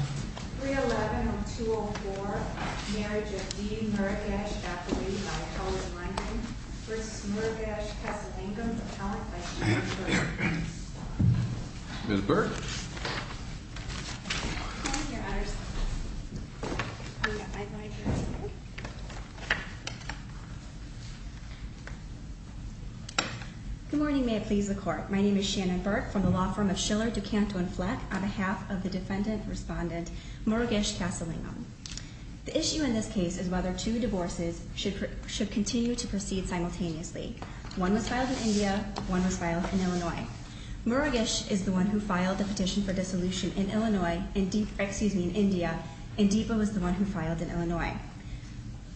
311-204, Marriage of D. Murugesh F. Lee by Helen Lunden v. Murugesh Kessellingham's Appellant by Shannon Burke. Ms. Burke. Good morning. May it please the Court. My name is Shannon Burke from the law firm of Schiller, DuCanto, and Fleck on behalf of the Defendant Respondent Murugesh Kessellingham. The issue in this case is whether two divorces should continue to proceed simultaneously. One was filed in India, one was filed in Illinois. Murugesh is the one who filed the petition for dissolution in Illinois, excuse me, in India, and Deepa was the one who filed in Illinois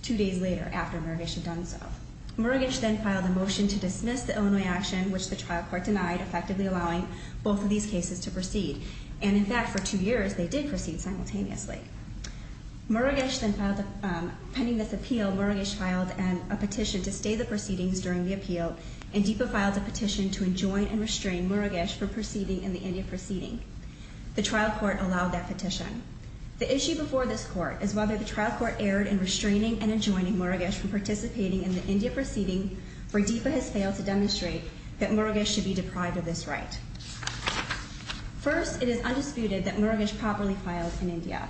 two days later after Murugesh had done so. Murugesh then filed a motion to dismiss the Illinois action, which the trial court denied, effectively allowing both of these cases to proceed. And in fact, for two years, they did proceed simultaneously. Murugesh then filed, pending this appeal, Murugesh filed a petition to stay the proceedings during the appeal, and Deepa filed a petition to enjoin and restrain Murugesh for proceeding in the India proceeding. The trial court allowed that petition. The issue before this court is whether the trial court erred in restraining and enjoining Murugesh from participating in the India proceeding, where Deepa has failed to demonstrate that Murugesh should be deprived of this right. First, it is undisputed that Murugesh properly filed in India.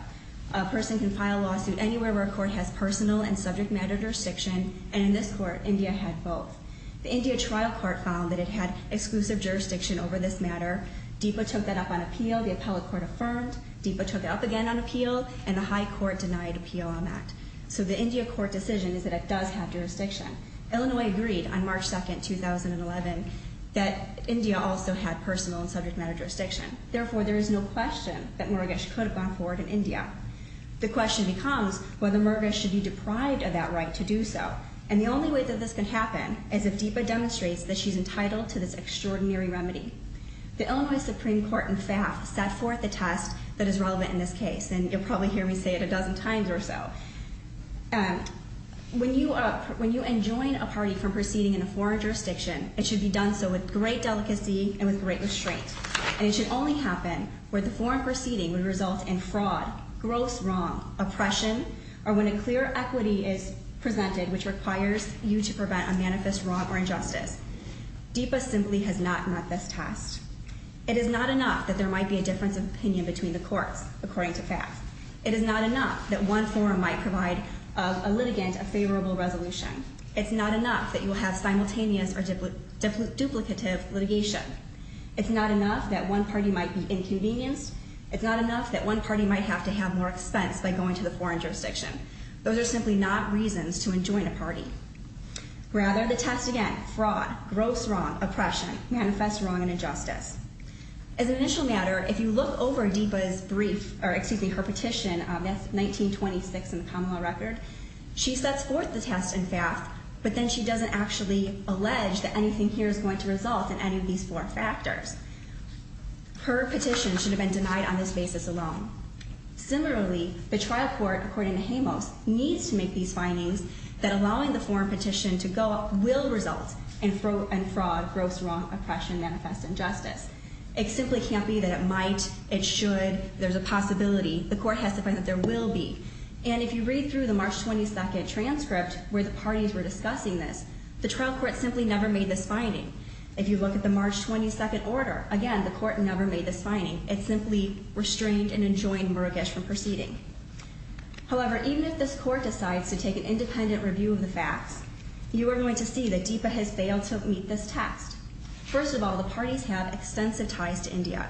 A person can file a lawsuit anywhere where a court has personal and subject matter jurisdiction, and in this court, India had both. The India trial court found that it had exclusive jurisdiction over this matter. Deepa took that up on appeal, the appellate court affirmed. Deepa took it up again on appeal, and the high court denied appeal on that. So the India court decision is that it does have jurisdiction. Illinois agreed on March 2, 2011, that India also had personal and subject matter jurisdiction. Therefore, there is no question that Murugesh could have gone forward in India. The question becomes whether Murugesh should be deprived of that right to do so. And the only way that this can happen is if Deepa demonstrates that she's entitled to this extraordinary remedy. The Illinois Supreme Court in FAF set forth a test that is relevant in this case, and you'll probably hear me say it a dozen times or so. When you enjoin a party from proceeding in a foreign jurisdiction, it should be done so with great delicacy and with great restraint. And it should only happen where the foreign proceeding would result in fraud, gross wrong, oppression, or when a clear equity is presented which requires you to prevent a manifest wrong or injustice. Deepa simply has not met this test. It is not enough that there might be a difference of opinion between the courts, according to FAF. It is not enough that one forum might provide a litigant a favorable resolution. It's not enough that you will have simultaneous or duplicative litigation. It's not enough that one party might be inconvenienced. It's not enough that one party might have to have more expense by going to the foreign jurisdiction. Those are simply not reasons to enjoin a party. Rather, the test again, fraud, gross wrong, oppression, manifest wrong and injustice. As an initial matter, if you look over Deepa's brief, or excuse me, her petition, that's 1926 in the common law record, she sets forth the test in FAF, but then she doesn't actually allege that anything here is going to result in any of these four factors. Her petition should have been denied on this basis alone. Similarly, the trial court, according to Jamos, needs to make these findings that allowing the foreign petition to go up will result in fraud, gross wrong, oppression, manifest injustice. It simply can't be that it might, it should, there's a possibility. The court has to find that there will be. And if you read through the March 22 transcript where the parties were discussing this, the trial court simply never made this finding. If you look at the March 22 order, again, the court never made this finding. It simply restrained and enjoined Murugesh from proceeding. However, even if this court decides to take an independent review of the facts, you are going to see that Deepa has failed to meet this test. First of all, the parties have extensive ties to India.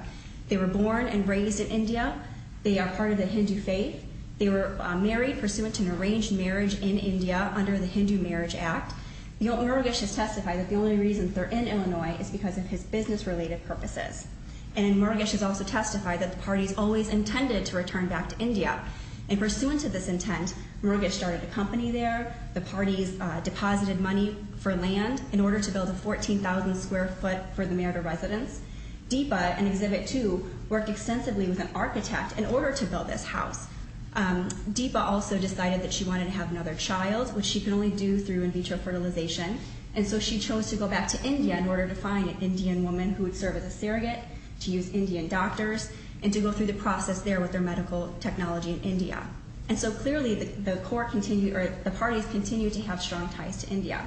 They were born and raised in India. They are part of the Hindu faith. They were married pursuant to an arranged marriage in India under the Hindu Marriage Act. Murugesh has testified that the only reason they're in Illinois is because of his business-related purposes. And Murugesh has also testified that the parties always intended to return back to India. And pursuant to this intent, Murugesh started a company there. The parties deposited money for land in order to build a 14,000 square foot for the marital residence. Deepa, in Exhibit 2, worked extensively with an architect in order to build this house. Deepa also decided that she wanted to have another child, which she can only do through in vitro fertilization. And so she chose to go back to India in order to find an Indian woman who would serve as a surrogate, to use Indian doctors, and to go through the process there with their medical technology in India. And so clearly, the parties continue to have strong ties to India.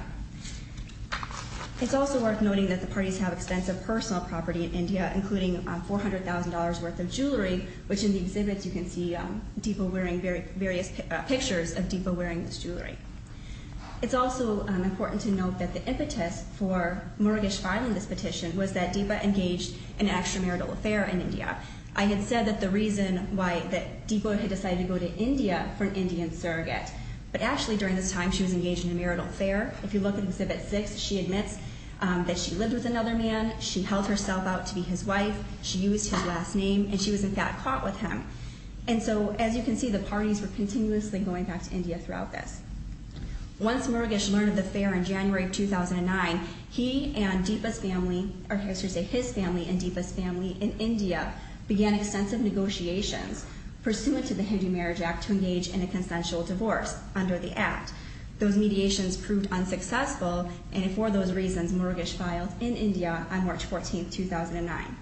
It's also worth noting that the parties have extensive personal property in India, including $400,000 worth of jewelry, which in the exhibits you can see Deepa wearing various pictures of Deepa wearing this jewelry. It's also important to note that the impetus for Murugesh filing this petition was that Deepa engaged in an extramarital affair in India. I had said that the reason why Deepa had decided to go to India for an Indian surrogate, but actually during this time she was engaged in a marital affair. If you look at Exhibit 6, she admits that she lived with another man, she held herself out to be his wife, she used his last name, and she was in fact caught with him. And so as you can see, the parties were continuously going back to India throughout this. Once Murugesh learned of the affair in January 2009, he and Deepa's family, or I should say his family and Deepa's family in India began extensive negotiations pursuant to the Hindu Marriage Act to engage in a consensual divorce under the Act. Those mediations proved unsuccessful, and for those reasons, Murugesh filed in India on March 14, 2009.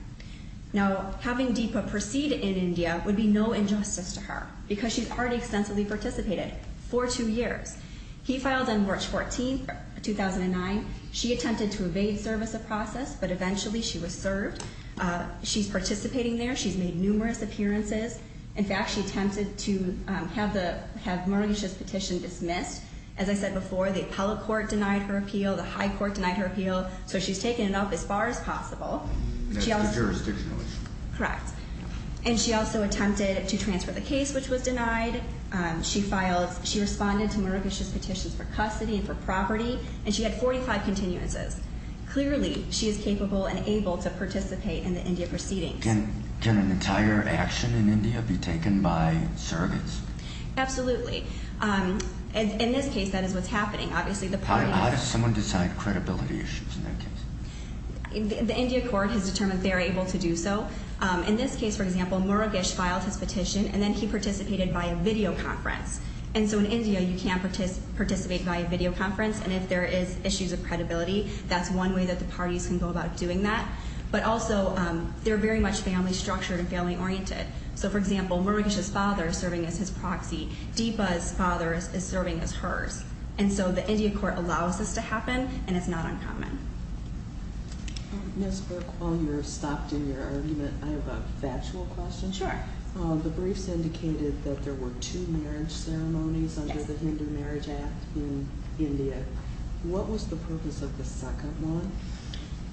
Now, having Deepa proceed in India would be no injustice to her, because she's already extensively participated for two years. He filed on March 14, 2009. She attempted to evade service of process, but eventually she was served. She's participating there. She's made numerous appearances. In fact, she attempted to have Murugesh's petition dismissed. As I said before, the appellate court denied her appeal. The high court denied her appeal. So she's taken it up as far as possible. That's the jurisdictional issue. Correct. And she also attempted to transfer the case, which was denied. She filed. She responded to Murugesh's petitions for custody and for property, and she had 45 continuances. Clearly, she is capable and able to participate in the India proceedings. Can an entire action in India be taken by surrogates? Absolutely. In this case, that is what's happening. How does someone decide credibility issues in that case? The India court has determined they are able to do so. In this case, for example, Murugesh filed his petition, and then he participated via videoconference. And so in India, you can't participate via videoconference. And if there is issues of credibility, that's one way that the parties can go about doing that. But also, they're very much family-structured and family-oriented. So, for example, Murugesh's father is serving as his proxy. Deepa's father is serving as hers. And so the India court allows this to happen, and it's not uncommon. Ms. Burke, while you're stopped in your argument, I have a factual question. Sure. The briefs indicated that there were two marriage ceremonies under the Hindu Marriage Act in India. What was the purpose of the second one?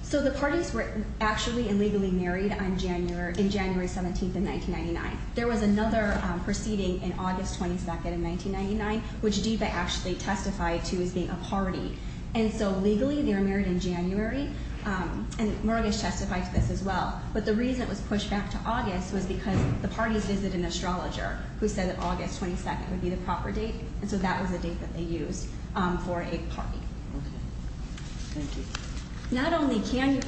So the parties were actually illegally married in January 17, 1999. There was another proceeding in August 22, 1999, which Deepa actually testified to as being a party. And so legally, they were married in January, and Murugesh testified to this as well. But the reason it was pushed back to August was because the parties visited an astrologer who said that August 22 would be the proper date. And so that was the date that they used for a party. Okay. Thank you. Not only did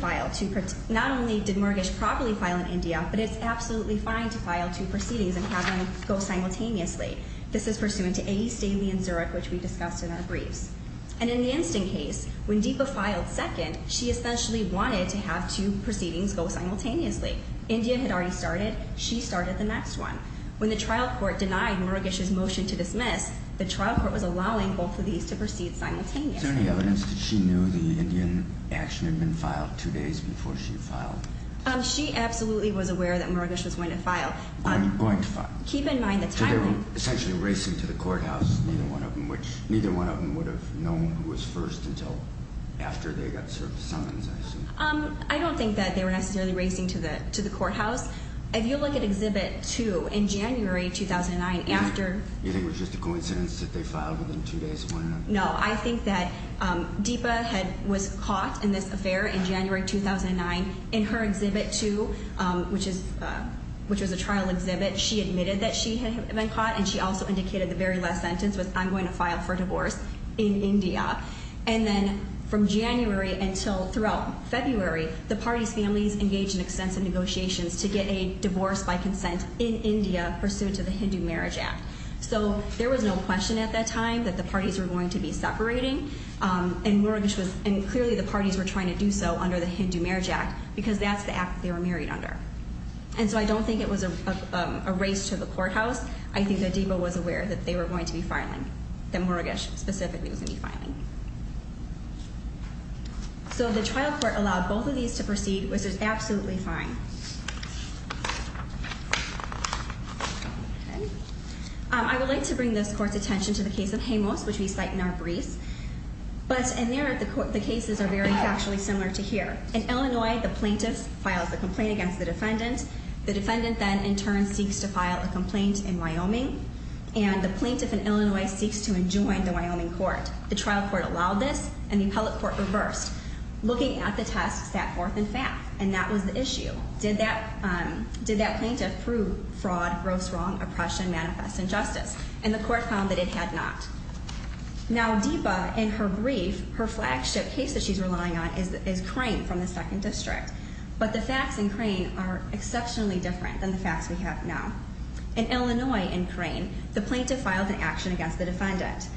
Murugesh properly file in India, but it's absolutely fine to file two proceedings and have them go simultaneously. This is pursuant to A, Staley, and Zurich, which we discussed in our briefs. And in the instant case, when Deepa filed second, she essentially wanted to have two proceedings go simultaneously. India had already started. She started the next one. When the trial court denied Murugesh's motion to dismiss, the trial court was allowing both of these to proceed simultaneously. Is there any evidence that she knew the Indian action had been filed two days before she filed? She absolutely was aware that Murugesh was going to file. Going to file. Keep in mind the timing. So they were essentially racing to the courthouse. Neither one of them would have known who was first until after they got served summons, I assume. I don't think that they were necessarily racing to the courthouse. If you look at Exhibit 2, in January 2009, after— You think it was just a coincidence that they filed within two days of one another? No, I think that Deepa was caught in this affair in January 2009. In her Exhibit 2, which was a trial exhibit, she admitted that she had been caught, and she also indicated the very last sentence was, I'm going to file for divorce in India. And then from January until throughout February, the parties' families engaged in extensive negotiations to get a divorce by consent in India pursuant to the Hindu Marriage Act. So there was no question at that time that the parties were going to be separating, and clearly the parties were trying to do so under the Hindu Marriage Act because that's the act they were married under. And so I don't think it was a race to the courthouse. I think that Deepa was aware that they were going to be filing, that Murugesh specifically was going to be filing. So the trial court allowed both of these to proceed, which is absolutely fine. Okay. I would like to bring this Court's attention to the case of Jemos, which we cite in our briefs. But in there, the cases are very factually similar to here. In Illinois, the plaintiff files a complaint against the defendant. The defendant then in turn seeks to file a complaint in Wyoming, and the plaintiff in Illinois seeks to enjoin the Wyoming court. The trial court allowed this, and the appellate court reversed, looking at the test set forth in fact, and that was the issue. Did that plaintiff prove fraud, gross wrong, oppression, manifest injustice? And the court found that it had not. Now, Deepa, in her brief, her flagship case that she's relying on is Crane from the 2nd District. But the facts in Crane are exceptionally different than the facts we have now. In Illinois, in Crane, the plaintiff filed an action against the defendant.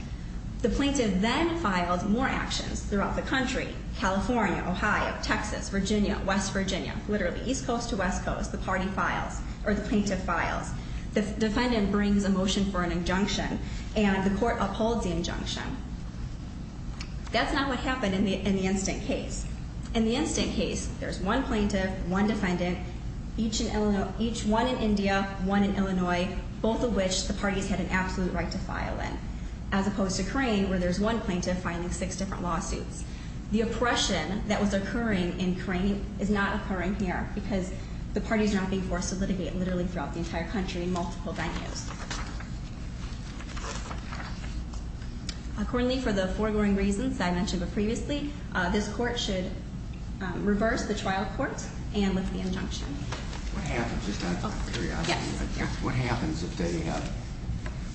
The plaintiff then files more actions throughout the country, California, Ohio, Texas, Virginia, West Virginia, literally east coast to west coast, the party files, or the plaintiff files. The defendant brings a motion for an injunction, and the court upholds the injunction. That's not what happened in the instant case. In the instant case, there's one plaintiff, one defendant, each one in India, one in Illinois, both of which the parties had an absolute right to file in, as opposed to Crane where there's one plaintiff filing six different lawsuits. The oppression that was occurring in Crane is not occurring here because the parties are not being forced to litigate literally throughout the entire country in multiple venues. Accordingly, for the foregoing reasons that I mentioned previously, What happens, just out of curiosity, what happens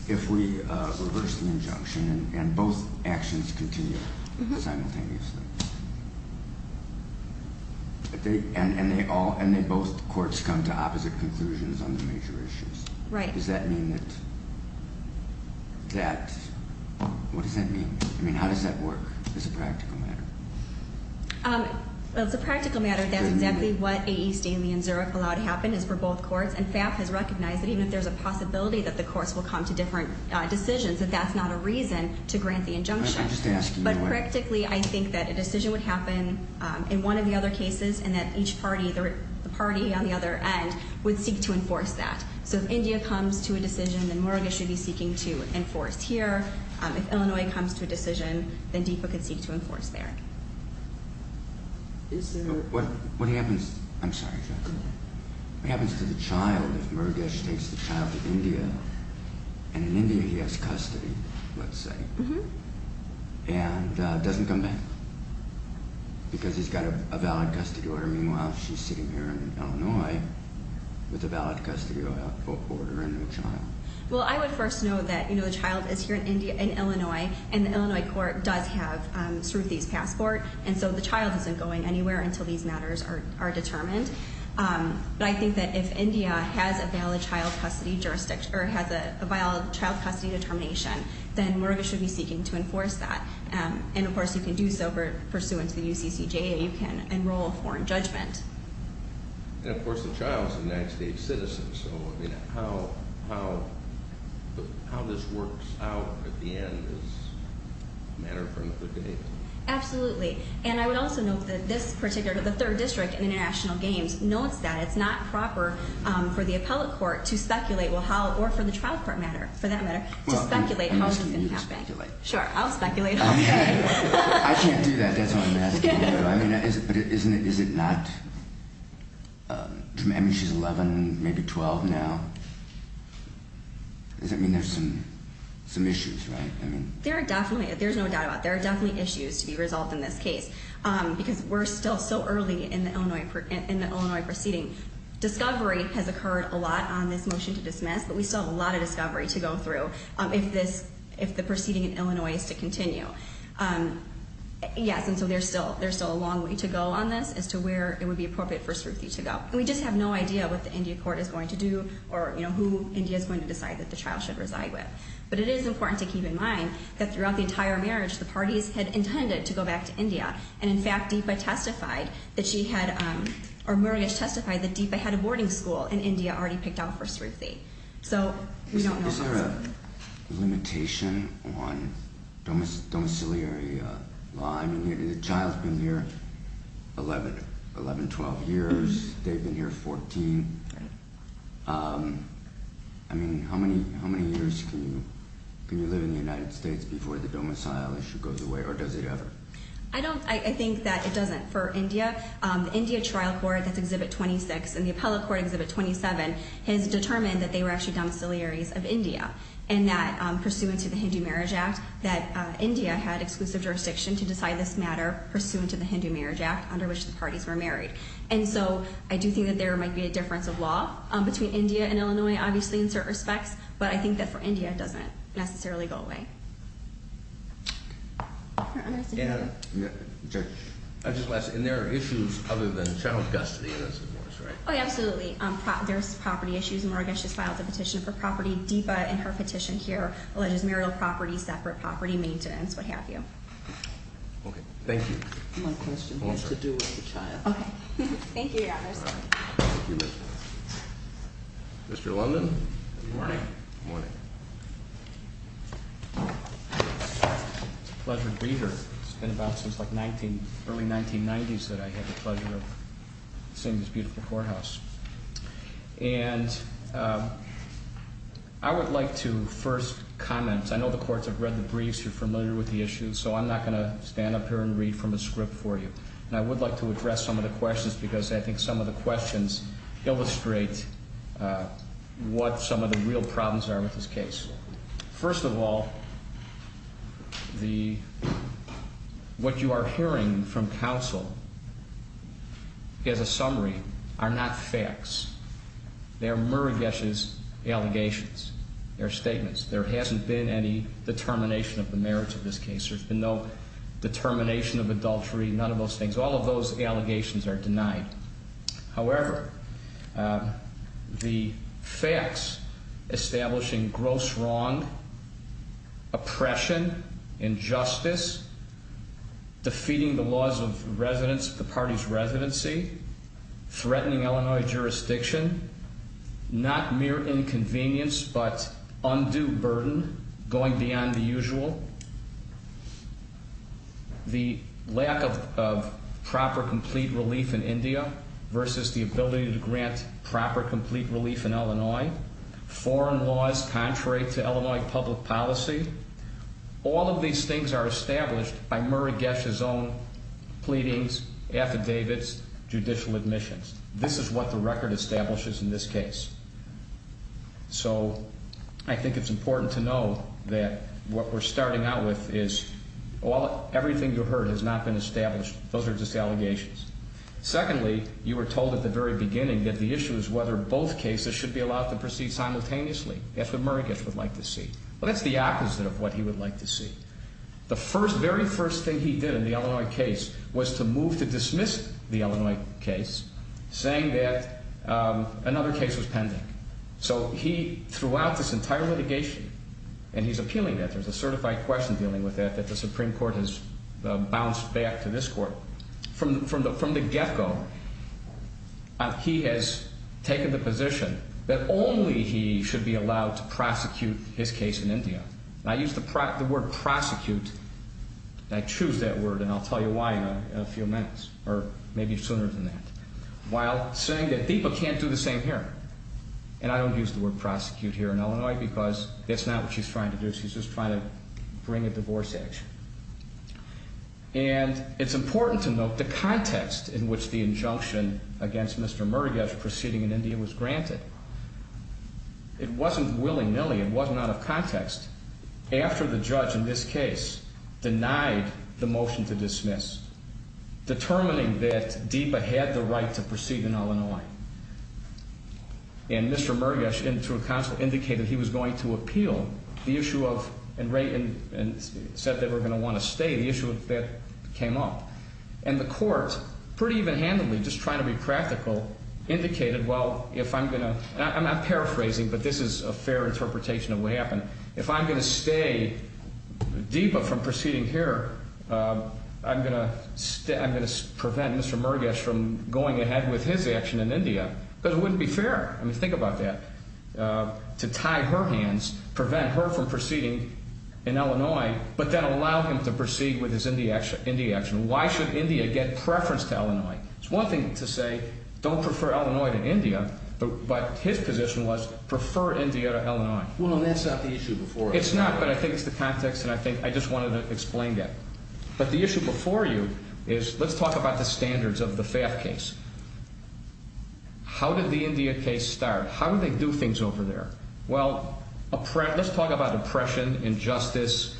if we reverse the injunction and both actions continue simultaneously? And both courts come to opposite conclusions on the major issues? Right. Does that mean that, what does that mean? I mean, how does that work as a practical matter? Well, it's a practical matter. That's exactly what A.E. Stanley and Zurich allowed to happen is for both courts. And FAF has recognized that even if there's a possibility that the courts will come to different decisions, that that's not a reason to grant the injunction. But practically, I think that a decision would happen in one of the other cases, and that each party, the party on the other end, would seek to enforce that. So if India comes to a decision, then Moroga should be seeking to enforce here. If Illinois comes to a decision, then DFA can seek to enforce there. What happens to the child if Moroga takes the child to India, and in India he has custody, let's say, and doesn't come back because he's got a valid custody order. Meanwhile, she's sitting here in Illinois with a valid custody order and no child. Well, I would first note that, you know, the child is here in Illinois, and the Illinois court does have Sruthi's passport, and so the child isn't going anywhere until these matters are determined. But I think that if India has a valid child custody determination, then Moroga should be seeking to enforce that. And, of course, you can do so pursuant to the UCCJA. You can enroll a foreign judgment. And, of course, the child is a United States citizen. So, I mean, how this works out at the end is a matter for another day. Absolutely. And I would also note that this particular, the third district in international games, notes that it's not proper for the appellate court to speculate, or for the trial court matter, for that matter, to speculate how this is going to happen. You speculate. Sure, I'll speculate. I can't do that. That's all I'm asking you. So, I mean, is it not, I mean, she's 11, maybe 12 now. Does that mean there's some issues, right? There are definitely, there's no doubt about it, there are definitely issues to be resolved in this case because we're still so early in the Illinois proceeding. Discovery has occurred a lot on this motion to dismiss, but we still have a lot of discovery to go through if the proceeding in Illinois is to continue. Yes, and so there's still a long way to go on this as to where it would be appropriate for Sruthi to go. And we just have no idea what the India court is going to do or who India is going to decide that the child should reside with. But it is important to keep in mind that throughout the entire marriage, the parties had intended to go back to India. And, in fact, Deepa testified that she had, or Murugesh testified, that Deepa had a boarding school in India already picked out for Sruthi. Is there a limitation on domiciliary law? I mean, the child's been here 11, 12 years, they've been here 14. I mean, how many years can you live in the United States before the domicile issue goes away, or does it ever? I don't, I think that it doesn't for India. The India trial court, that's Exhibit 26, and the appellate court, Exhibit 27, has determined that they were actually domiciliaries of India, and that, pursuant to the Hindu Marriage Act, that India had exclusive jurisdiction to decide this matter, pursuant to the Hindu Marriage Act, under which the parties were married. And so I do think that there might be a difference of law between India and Illinois, obviously, in certain respects, but I think that for India it doesn't necessarily go away. I'll just ask, and there are issues other than child custody in this divorce, right? Oh, absolutely. There's property issues. Marga, she's filed a petition for property. Deepa, in her petition here, alleges marital property, separate property, maintenance, what have you. Okay, thank you. One question. It has to do with the child. Thank you, Your Honors. Mr. London? Good morning. Good morning. It's a pleasure to be here. It's been about since the early 1990s that I had the pleasure of seeing this beautiful courthouse. And I would like to first comment. I know the courts have read the briefs, you're familiar with the issues, so I'm not going to stand up here and read from a script for you. And I would like to address some of the questions, because I think some of the questions illustrate what some of the real problems are with this case. First of all, what you are hearing from counsel, as a summary, are not facts. They are Muragesh's allegations. They are statements. There hasn't been any determination of the merits of this case. There's been no determination of adultery, none of those things. All of those allegations are denied. However, the facts establishing gross wrong, oppression, injustice, defeating the laws of the party's residency, threatening Illinois jurisdiction, not mere inconvenience but undue burden going beyond the usual, the lack of proper complete relief in India versus the ability to grant proper complete relief in Illinois, foreign laws contrary to Illinois public policy, all of these things are established by Muragesh's own pleadings, affidavits, judicial admissions. This is what the record establishes in this case. So I think it's important to know that what we're starting out with is everything you heard has not been established. Those are just allegations. Secondly, you were told at the very beginning that the issue is whether both cases should be allowed to proceed simultaneously, if the Muragesh would like to see. Well, that's the opposite of what he would like to see. The very first thing he did in the Illinois case was to move to dismiss the Illinois case, saying that another case was pending. So he threw out this entire litigation, and he's appealing that. There's a certified question dealing with that that the Supreme Court has bounced back to this court. From the get-go, he has taken the position that only he should be allowed to prosecute his case in India. And I use the word prosecute, and I choose that word, and I'll tell you why in a few minutes, or maybe sooner than that, while saying that DIPA can't do the same here. And I don't use the word prosecute here in Illinois because that's not what she's trying to do. She's just trying to bring a divorce action. And it's important to note the context in which the injunction against Mr. Muragesh proceeding in India was granted. It wasn't willy-nilly. It wasn't out of context. After the judge in this case denied the motion to dismiss, determining that DIPA had the right to proceed in Illinois, and Mr. Muragesh, in through a counsel, indicated he was going to appeal the issue of, and said they were going to want to stay, the issue that came up. And the court, pretty even-handedly, just trying to be practical, indicated, well, if I'm going to, and I'm not paraphrasing, but this is a fair interpretation of what happened, if I'm going to stay DIPA from proceeding here, I'm going to prevent Mr. Muragesh from going ahead with his action in India. Because it wouldn't be fair. I mean, think about that. To tie her hands, prevent her from proceeding in Illinois, but then allow him to proceed with his India action. Why should India get preference to Illinois? It's one thing to say, don't prefer Illinois to India, but his position was, prefer India to Illinois. Well, that's not the issue before us. It's not, but I think it's the context, and I think I just wanted to explain that. But the issue before you is, let's talk about the standards of the FAFT case. How did the India case start? How did they do things over there? Well, let's talk about oppression, injustice,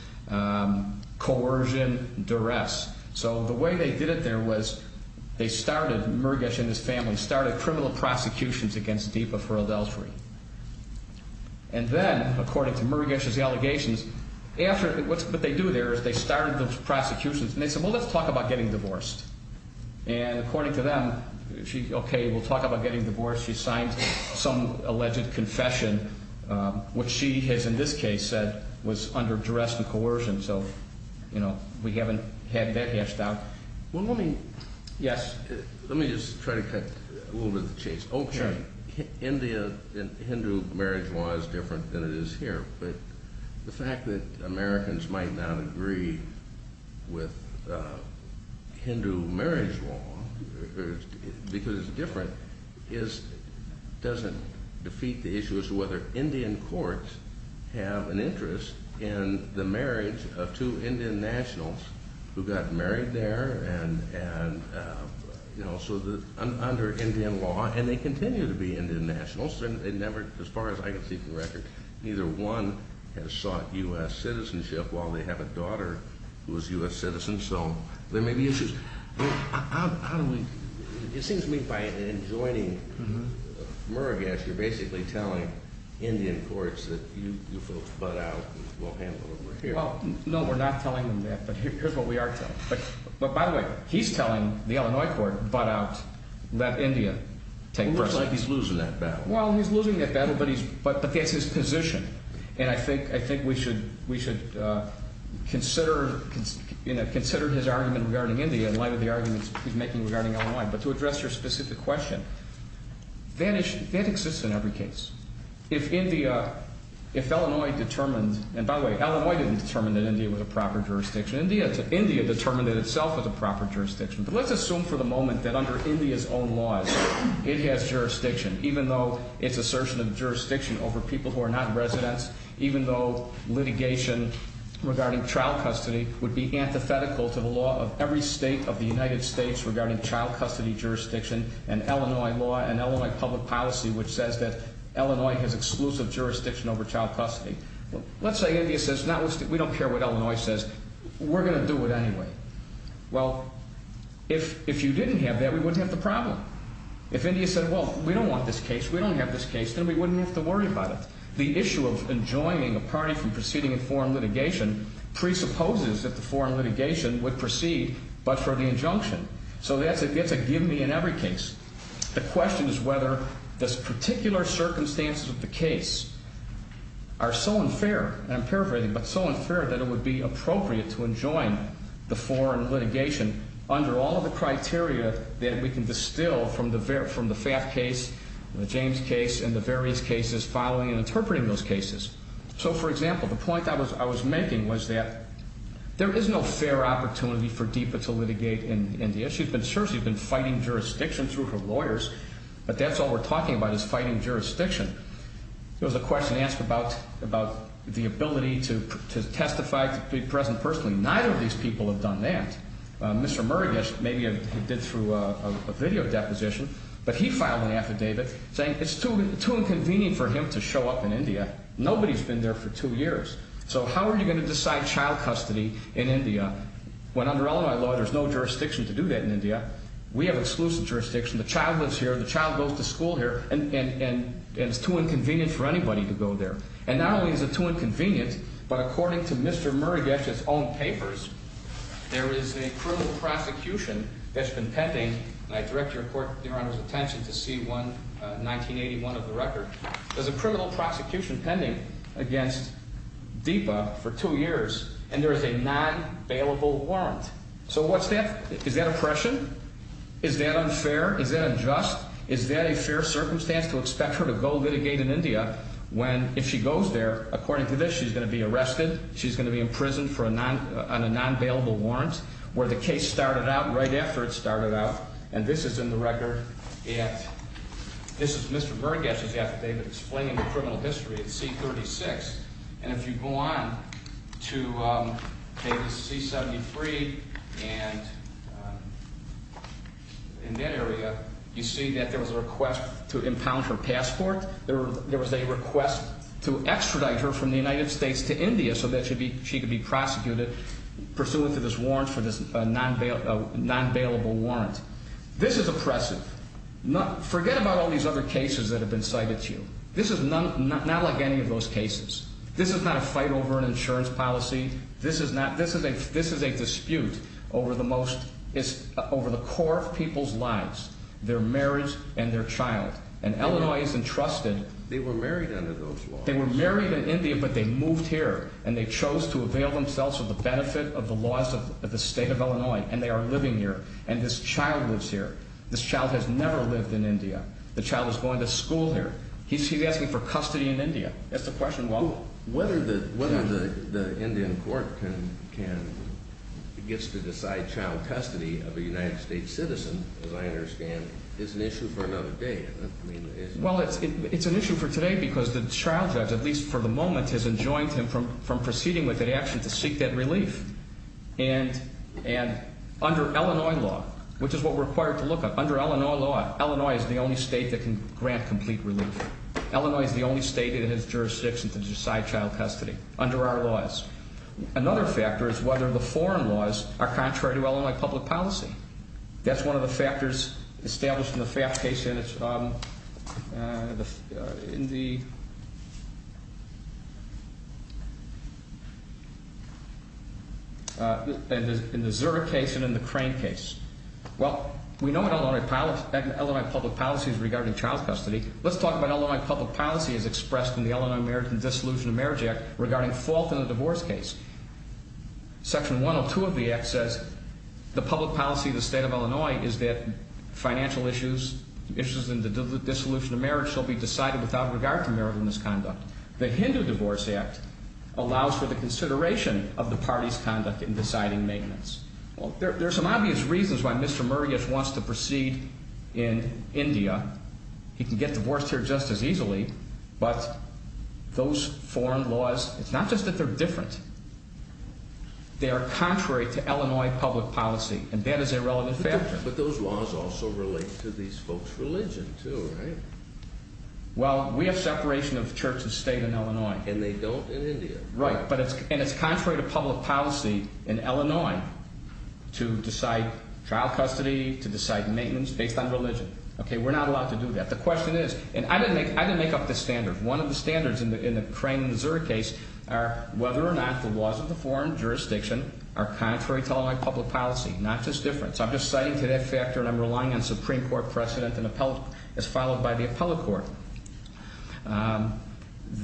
coercion, duress. So the way they did it there was they started, Muragesh and his family, started criminal prosecutions against DIPA for adultery. And then, according to Muragesh's allegations, after, what they do there is they started those prosecutions, and they said, well, let's talk about getting divorced. And according to them, okay, we'll talk about getting divorced. She signed some alleged confession, which she has, in this case, said was under duress and coercion. So, you know, we haven't had that gashed out. Well, let me. Yes. Let me just try to cut a little bit of the chase. Okay. India and Hindu marriage law is different than it is here. But the fact that Americans might not agree with Hindu marriage law, because it's different, doesn't defeat the issue as to whether Indian courts have an interest in the marriage of two Indian nationals who got married there. And, you know, so under Indian law, and they continue to be Indian nationals, and they never, as far as I can see from the record, neither one has sought U.S. citizenship while they have a daughter who is a U.S. citizen. So there may be issues. How do we, it seems to me by joining Muragesh, you're basically telling Indian courts that you folks butt out and we'll handle it over here. Well, no, we're not telling them that, but here's what we are telling them. But, by the way, he's telling the Illinois court, butt out, let India take precedence. It sounds like he's losing that battle. Well, he's losing that battle, but that's his position. And I think we should consider his argument regarding India in light of the arguments he's making regarding Illinois. But to address your specific question, that exists in every case. If India, if Illinois determined, and by the way, Illinois didn't determine that India was a proper jurisdiction. India determined it itself as a proper jurisdiction. But let's assume for the moment that under India's own laws, it has jurisdiction, even though it's assertion of jurisdiction over people who are not residents, even though litigation regarding child custody would be antithetical to the law of every state of the United States regarding child custody jurisdiction and Illinois law and Illinois public policy which says that Illinois has exclusive jurisdiction over child custody. Let's say India says, we don't care what Illinois says, we're going to do it anyway. Well, if you didn't have that, we wouldn't have the problem. If India said, well, we don't want this case, we don't have this case, then we wouldn't have to worry about it. The issue of enjoining a party from proceeding in foreign litigation presupposes that the foreign litigation would proceed but for the injunction. So that's a give me in every case. The question is whether this particular circumstances of the case are so unfair, and I'm paraphrasing, but so unfair that it would be appropriate to enjoin the foreign litigation under all of the criteria that we can distill from the FAFT case, the James case, and the various cases following and interpreting those cases. So, for example, the point I was making was that there is no fair opportunity for DIPA to litigate India. Yes, she's been fighting jurisdiction through her lawyers, but that's all we're talking about is fighting jurisdiction. There was a question asked about the ability to testify, to be present personally. Neither of these people have done that. Mr. Murugesh maybe did through a video deposition, but he filed an affidavit saying it's too inconvenient for him to show up in India. Nobody's been there for two years. So how are you going to decide child custody in India when under Illinois law there's no jurisdiction to do that? We have exclusive jurisdiction. The child lives here. The child goes to school here, and it's too inconvenient for anybody to go there. And not only is it too inconvenient, but according to Mr. Murugesh's own papers, there is a criminal prosecution that's been pending, and I direct Your Honor's attention to C-1981 of the record. There's a criminal prosecution pending against DIPA for two years, and there is a non-bailable warrant. So what's that? Is that oppression? Is that unfair? Is that unjust? Is that a fair circumstance to expect her to go litigate in India when if she goes there, according to this, she's going to be arrested, she's going to be imprisoned on a non-bailable warrant where the case started out right after it started out, and this is in the record at Mr. Murugesh's affidavit explaining the criminal history at C-36. And if you go on to Davis C-73 and in that area, you see that there was a request to impound her passport. There was a request to extradite her from the United States to India so that she could be prosecuted pursuant to this warrant for this non-bailable warrant. This is oppressive. Forget about all these other cases that have been cited to you. This is not like any of those cases. This is not a fight over an insurance policy. This is a dispute over the core of people's lives, their marriage and their child, and Illinois is entrusted. They were married under those laws. They were married in India, but they moved here, and they chose to avail themselves of the benefit of the laws of the state of Illinois, and they are living here, and this child lives here. This child has never lived in India. The child is going to school here. He's asking for custody in India. That's the question. Well, whether the Indian court gets to decide child custody of a United States citizen, as I understand, is an issue for another day, isn't it? Well, it's an issue for today because the child judge, at least for the moment, has enjoined him from proceeding with that action to seek that relief. And under Illinois law, which is what we're required to look at, under Illinois law, Illinois is the only state that can grant complete relief. Illinois is the only state that has jurisdiction to decide child custody under our laws. Another factor is whether the foreign laws are contrary to Illinois public policy. That's one of the factors established in the Zurich case and in the Crane case. Well, we know that Illinois public policy is regarding child custody. Let's talk about Illinois public policy as expressed in the Illinois Marriage and Dissolution of Marriage Act regarding fault in a divorce case. Section 102 of the act says the public policy of the state of Illinois is that financial issues, issues in the dissolution of marriage, shall be decided without regard to marital misconduct. The Hindu Divorce Act allows for the consideration of the party's conduct in deciding maintenance. There are some obvious reasons why Mr. Murray wants to proceed in India. He can get divorced here just as easily. But those foreign laws, it's not just that they're different. They are contrary to Illinois public policy, and that is a relevant factor. But those laws also relate to these folks' religion, too, right? Well, we have separation of church and state in Illinois. And they don't in India. Right, and it's contrary to public policy in Illinois to decide child custody, to decide maintenance based on religion. Okay, we're not allowed to do that. The question is, and I didn't make up this standard. One of the standards in the Crane, Missouri case are whether or not the laws of the foreign jurisdiction are contrary to Illinois public policy, not just different. So I'm just citing to that factor, and I'm relying on Supreme Court precedent as followed by the appellate court.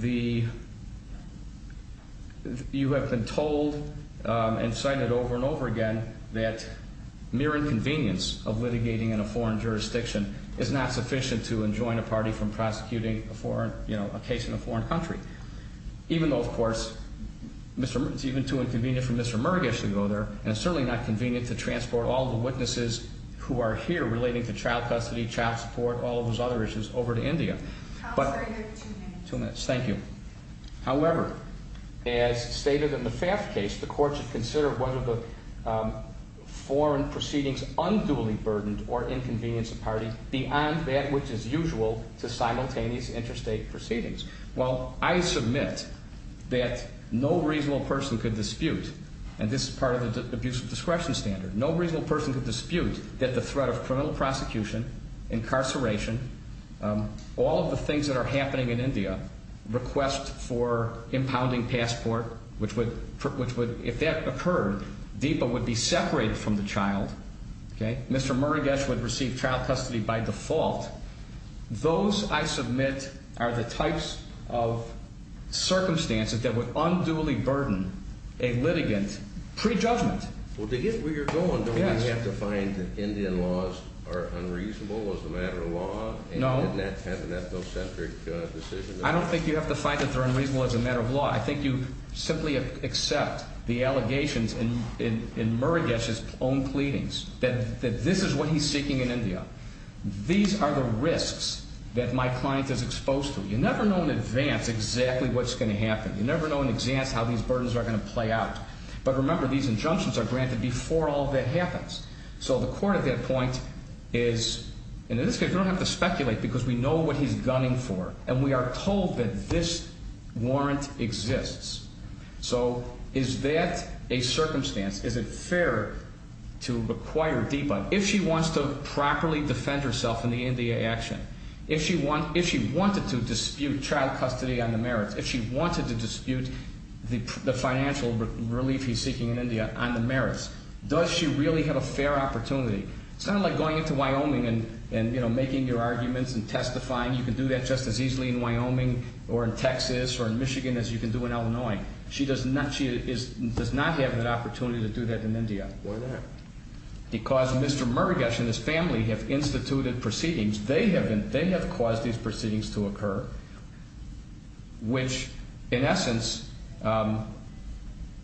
You have been told and cited over and over again that mere inconvenience of litigating in a foreign jurisdiction is not sufficient to enjoin a party from prosecuting a foreign, you know, a case in a foreign country. Even though, of course, it's even too inconvenient for Mr. Murgish to go there. And it's certainly not convenient to transport all the witnesses who are here relating to child custody, child support, all of those other issues over to India. Counselor, you have two minutes. Two minutes, thank you. However, as stated in the FAFT case, the court should consider whether the foreign proceedings unduly burdened or inconvenience a party beyond that which is usual to simultaneous interstate proceedings. Well, I submit that no reasonable person could dispute, and this is part of the abuse of discretion standard. No reasonable person could dispute that the threat of criminal prosecution, incarceration, all of the things that are happening in India, request for impounding passport, which would, if that occurred, DIPA would be separated from the child. Mr. Murgish would receive child custody by default. Those, I submit, are the types of circumstances that would unduly burden a litigant pre-judgment. Well, to get where you're going, don't we have to find that Indian laws are unreasonable as a matter of law? No. And that's an ethnocentric decision? I don't think you have to find that they're unreasonable as a matter of law. I think you simply accept the allegations in Murgish's own pleadings that this is what he's seeking in India. These are the risks that my client is exposed to. You never know in advance exactly what's going to happen. You never know in advance how these burdens are going to play out. But remember, these injunctions are granted before all that happens. So the court at that point is, in this case, we don't have to speculate because we know what he's gunning for, and we are told that this warrant exists. So is that a circumstance? Is it fair to require DIPA? If she wants to properly defend herself in the India action, if she wanted to dispute child custody on the merits, if she wanted to dispute the financial relief he's seeking in India on the merits, does she really have a fair opportunity? It's kind of like going into Wyoming and making your arguments and testifying. You can do that just as easily in Wyoming or in Texas or in Michigan as you can do in Illinois. She does not have an opportunity to do that in India. Why not? Because Mr. Murugesh and his family have instituted proceedings. They have caused these proceedings to occur, which, in essence,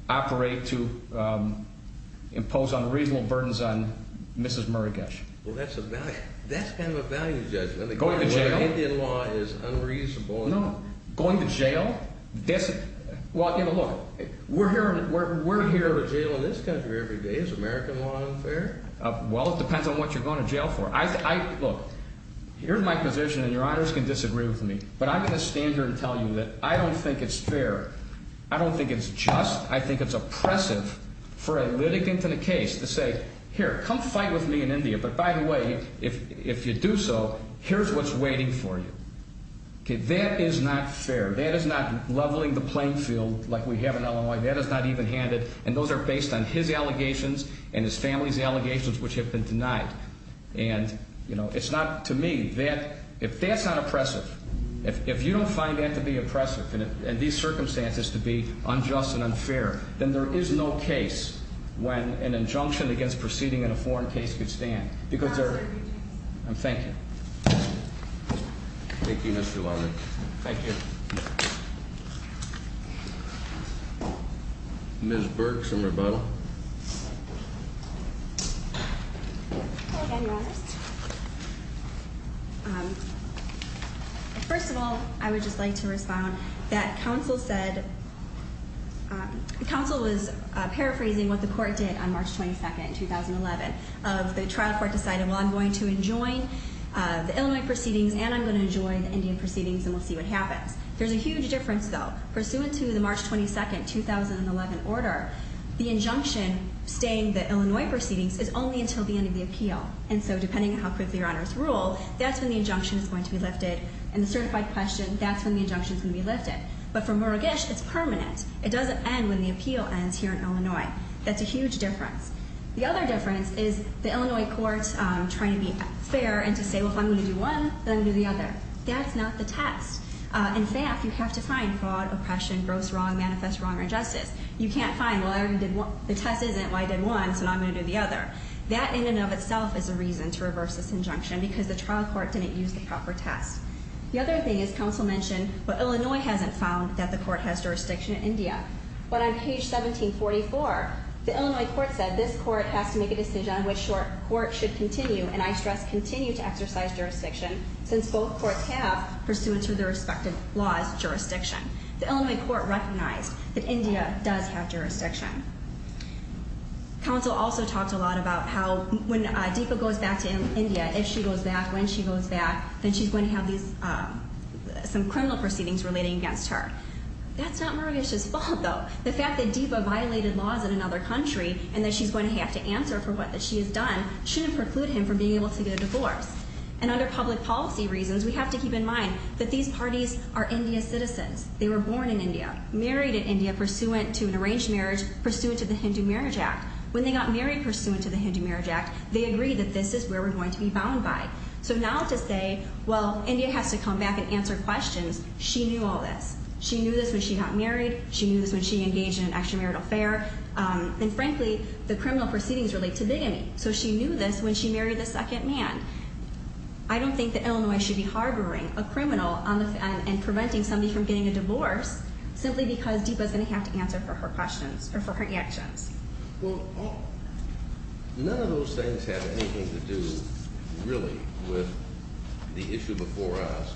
operate to impose unreasonable burdens on Mrs. Murugesh. Well, that's kind of a value judgment. Going to jail? The Indian law is unreasonable. No. Going to jail? Well, look, we're here to jail in this country every day. Is American law unfair? Well, it depends on what you're going to jail for. Look, here's my position, and your honors can disagree with me, but I'm going to stand here and tell you that I don't think it's fair. I don't think it's just. I think it's oppressive for a litigant in a case to say, here, come fight with me in India, but by the way, if you do so, here's what's waiting for you. That is not fair. That is not leveling the playing field like we have in Illinois. That is not even-handed. And those are based on his allegations and his family's allegations, which have been denied. And, you know, it's not, to me, that, if that's not oppressive, if you don't find that to be oppressive and these circumstances to be unjust and unfair, then there is no case when an injunction against proceeding in a foreign case could stand. And thank you. Thank you, Mr. Lowry. Thank you. Ms. Burke, some rebuttal. Hello again, your honors. First of all, I would just like to respond that counsel said, counsel was paraphrasing what the court did on March 22nd, 2011. The trial court decided, well, I'm going to enjoin the Illinois proceedings and I'm going to enjoin the Indian proceedings and we'll see what happens. There's a huge difference, though. Pursuant to the March 22nd, 2011 order, the injunction staying the Illinois proceedings is only until the end of the appeal. And so depending on how quickly your honors rule, that's when the injunction is going to be lifted. And the certified question, that's when the injunction is going to be lifted. But for Murugesh, it's permanent. It doesn't end when the appeal ends here in Illinois. That's a huge difference. The other difference is the Illinois court trying to be fair and to say, well, if I'm going to do one, then I'm going to do the other. That's not the test. In fact, you have to find fraud, oppression, gross wrong, manifest wrong, or injustice. You can't find, well, I already did one. The test isn't, well, I did one, so now I'm going to do the other. That in and of itself is a reason to reverse this injunction because the trial court didn't use the proper test. The other thing is, counsel mentioned, well, Illinois hasn't found that the court has jurisdiction in India. But on page 1744, the Illinois court said, this court has to make a decision on which court should continue, and I stress continue to exercise jurisdiction, since both courts have, pursuant to their respective laws, jurisdiction. The Illinois court recognized that India does have jurisdiction. Counsel also talked a lot about how when Deepa goes back to India, if she goes back, when she goes back, then she's going to have some criminal proceedings relating against her. That's not Marisha's fault, though. The fact that Deepa violated laws in another country and that she's going to have to answer for what she has done shouldn't preclude him from being able to get a divorce. And under public policy reasons, we have to keep in mind that these parties are India citizens. They were born in India, married in India, pursuant to an arranged marriage, pursuant to the Hindu Marriage Act. When they got married pursuant to the Hindu Marriage Act, they agreed that this is where we're going to be bound by. So now to say, well, India has to come back and answer questions, she knew all this. She knew this when she got married. She knew this when she engaged in an extramarital affair. And frankly, the criminal proceedings relate to bigamy. So she knew this when she married the second man. I don't think that Illinois should be harboring a criminal and preventing somebody from getting a divorce simply because Deepa's going to have to answer for her questions or for her actions. Well, none of those things have anything to do, really, with the issue before us,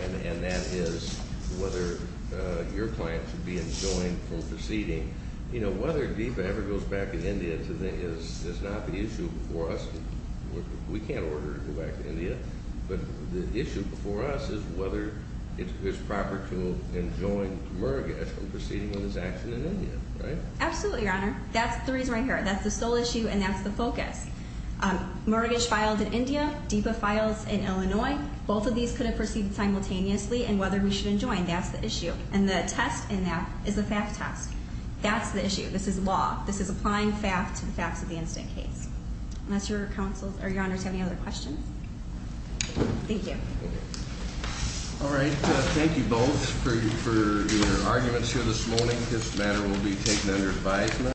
and that is whether your client should be enjoined from proceeding. You know, whether Deepa ever goes back to India is not the issue before us. We can't order her to go back to India. But the issue before us is whether it's proper to enjoin Murugesh from proceeding on his action in India, right? Absolutely, Your Honor. That's the reason right here. That's the sole issue, and that's the focus. Murugesh filed in India. Deepa files in Illinois. Both of these could have proceeded simultaneously, and whether we should enjoin, that's the issue. And the test in that is the fact test. That's the issue. This is law. This is applying fact to the facts of the incident case. Unless Your Honor has any other questions? Thank you. All right. Thank you both for your arguments here this morning. This matter will be taken under advisement.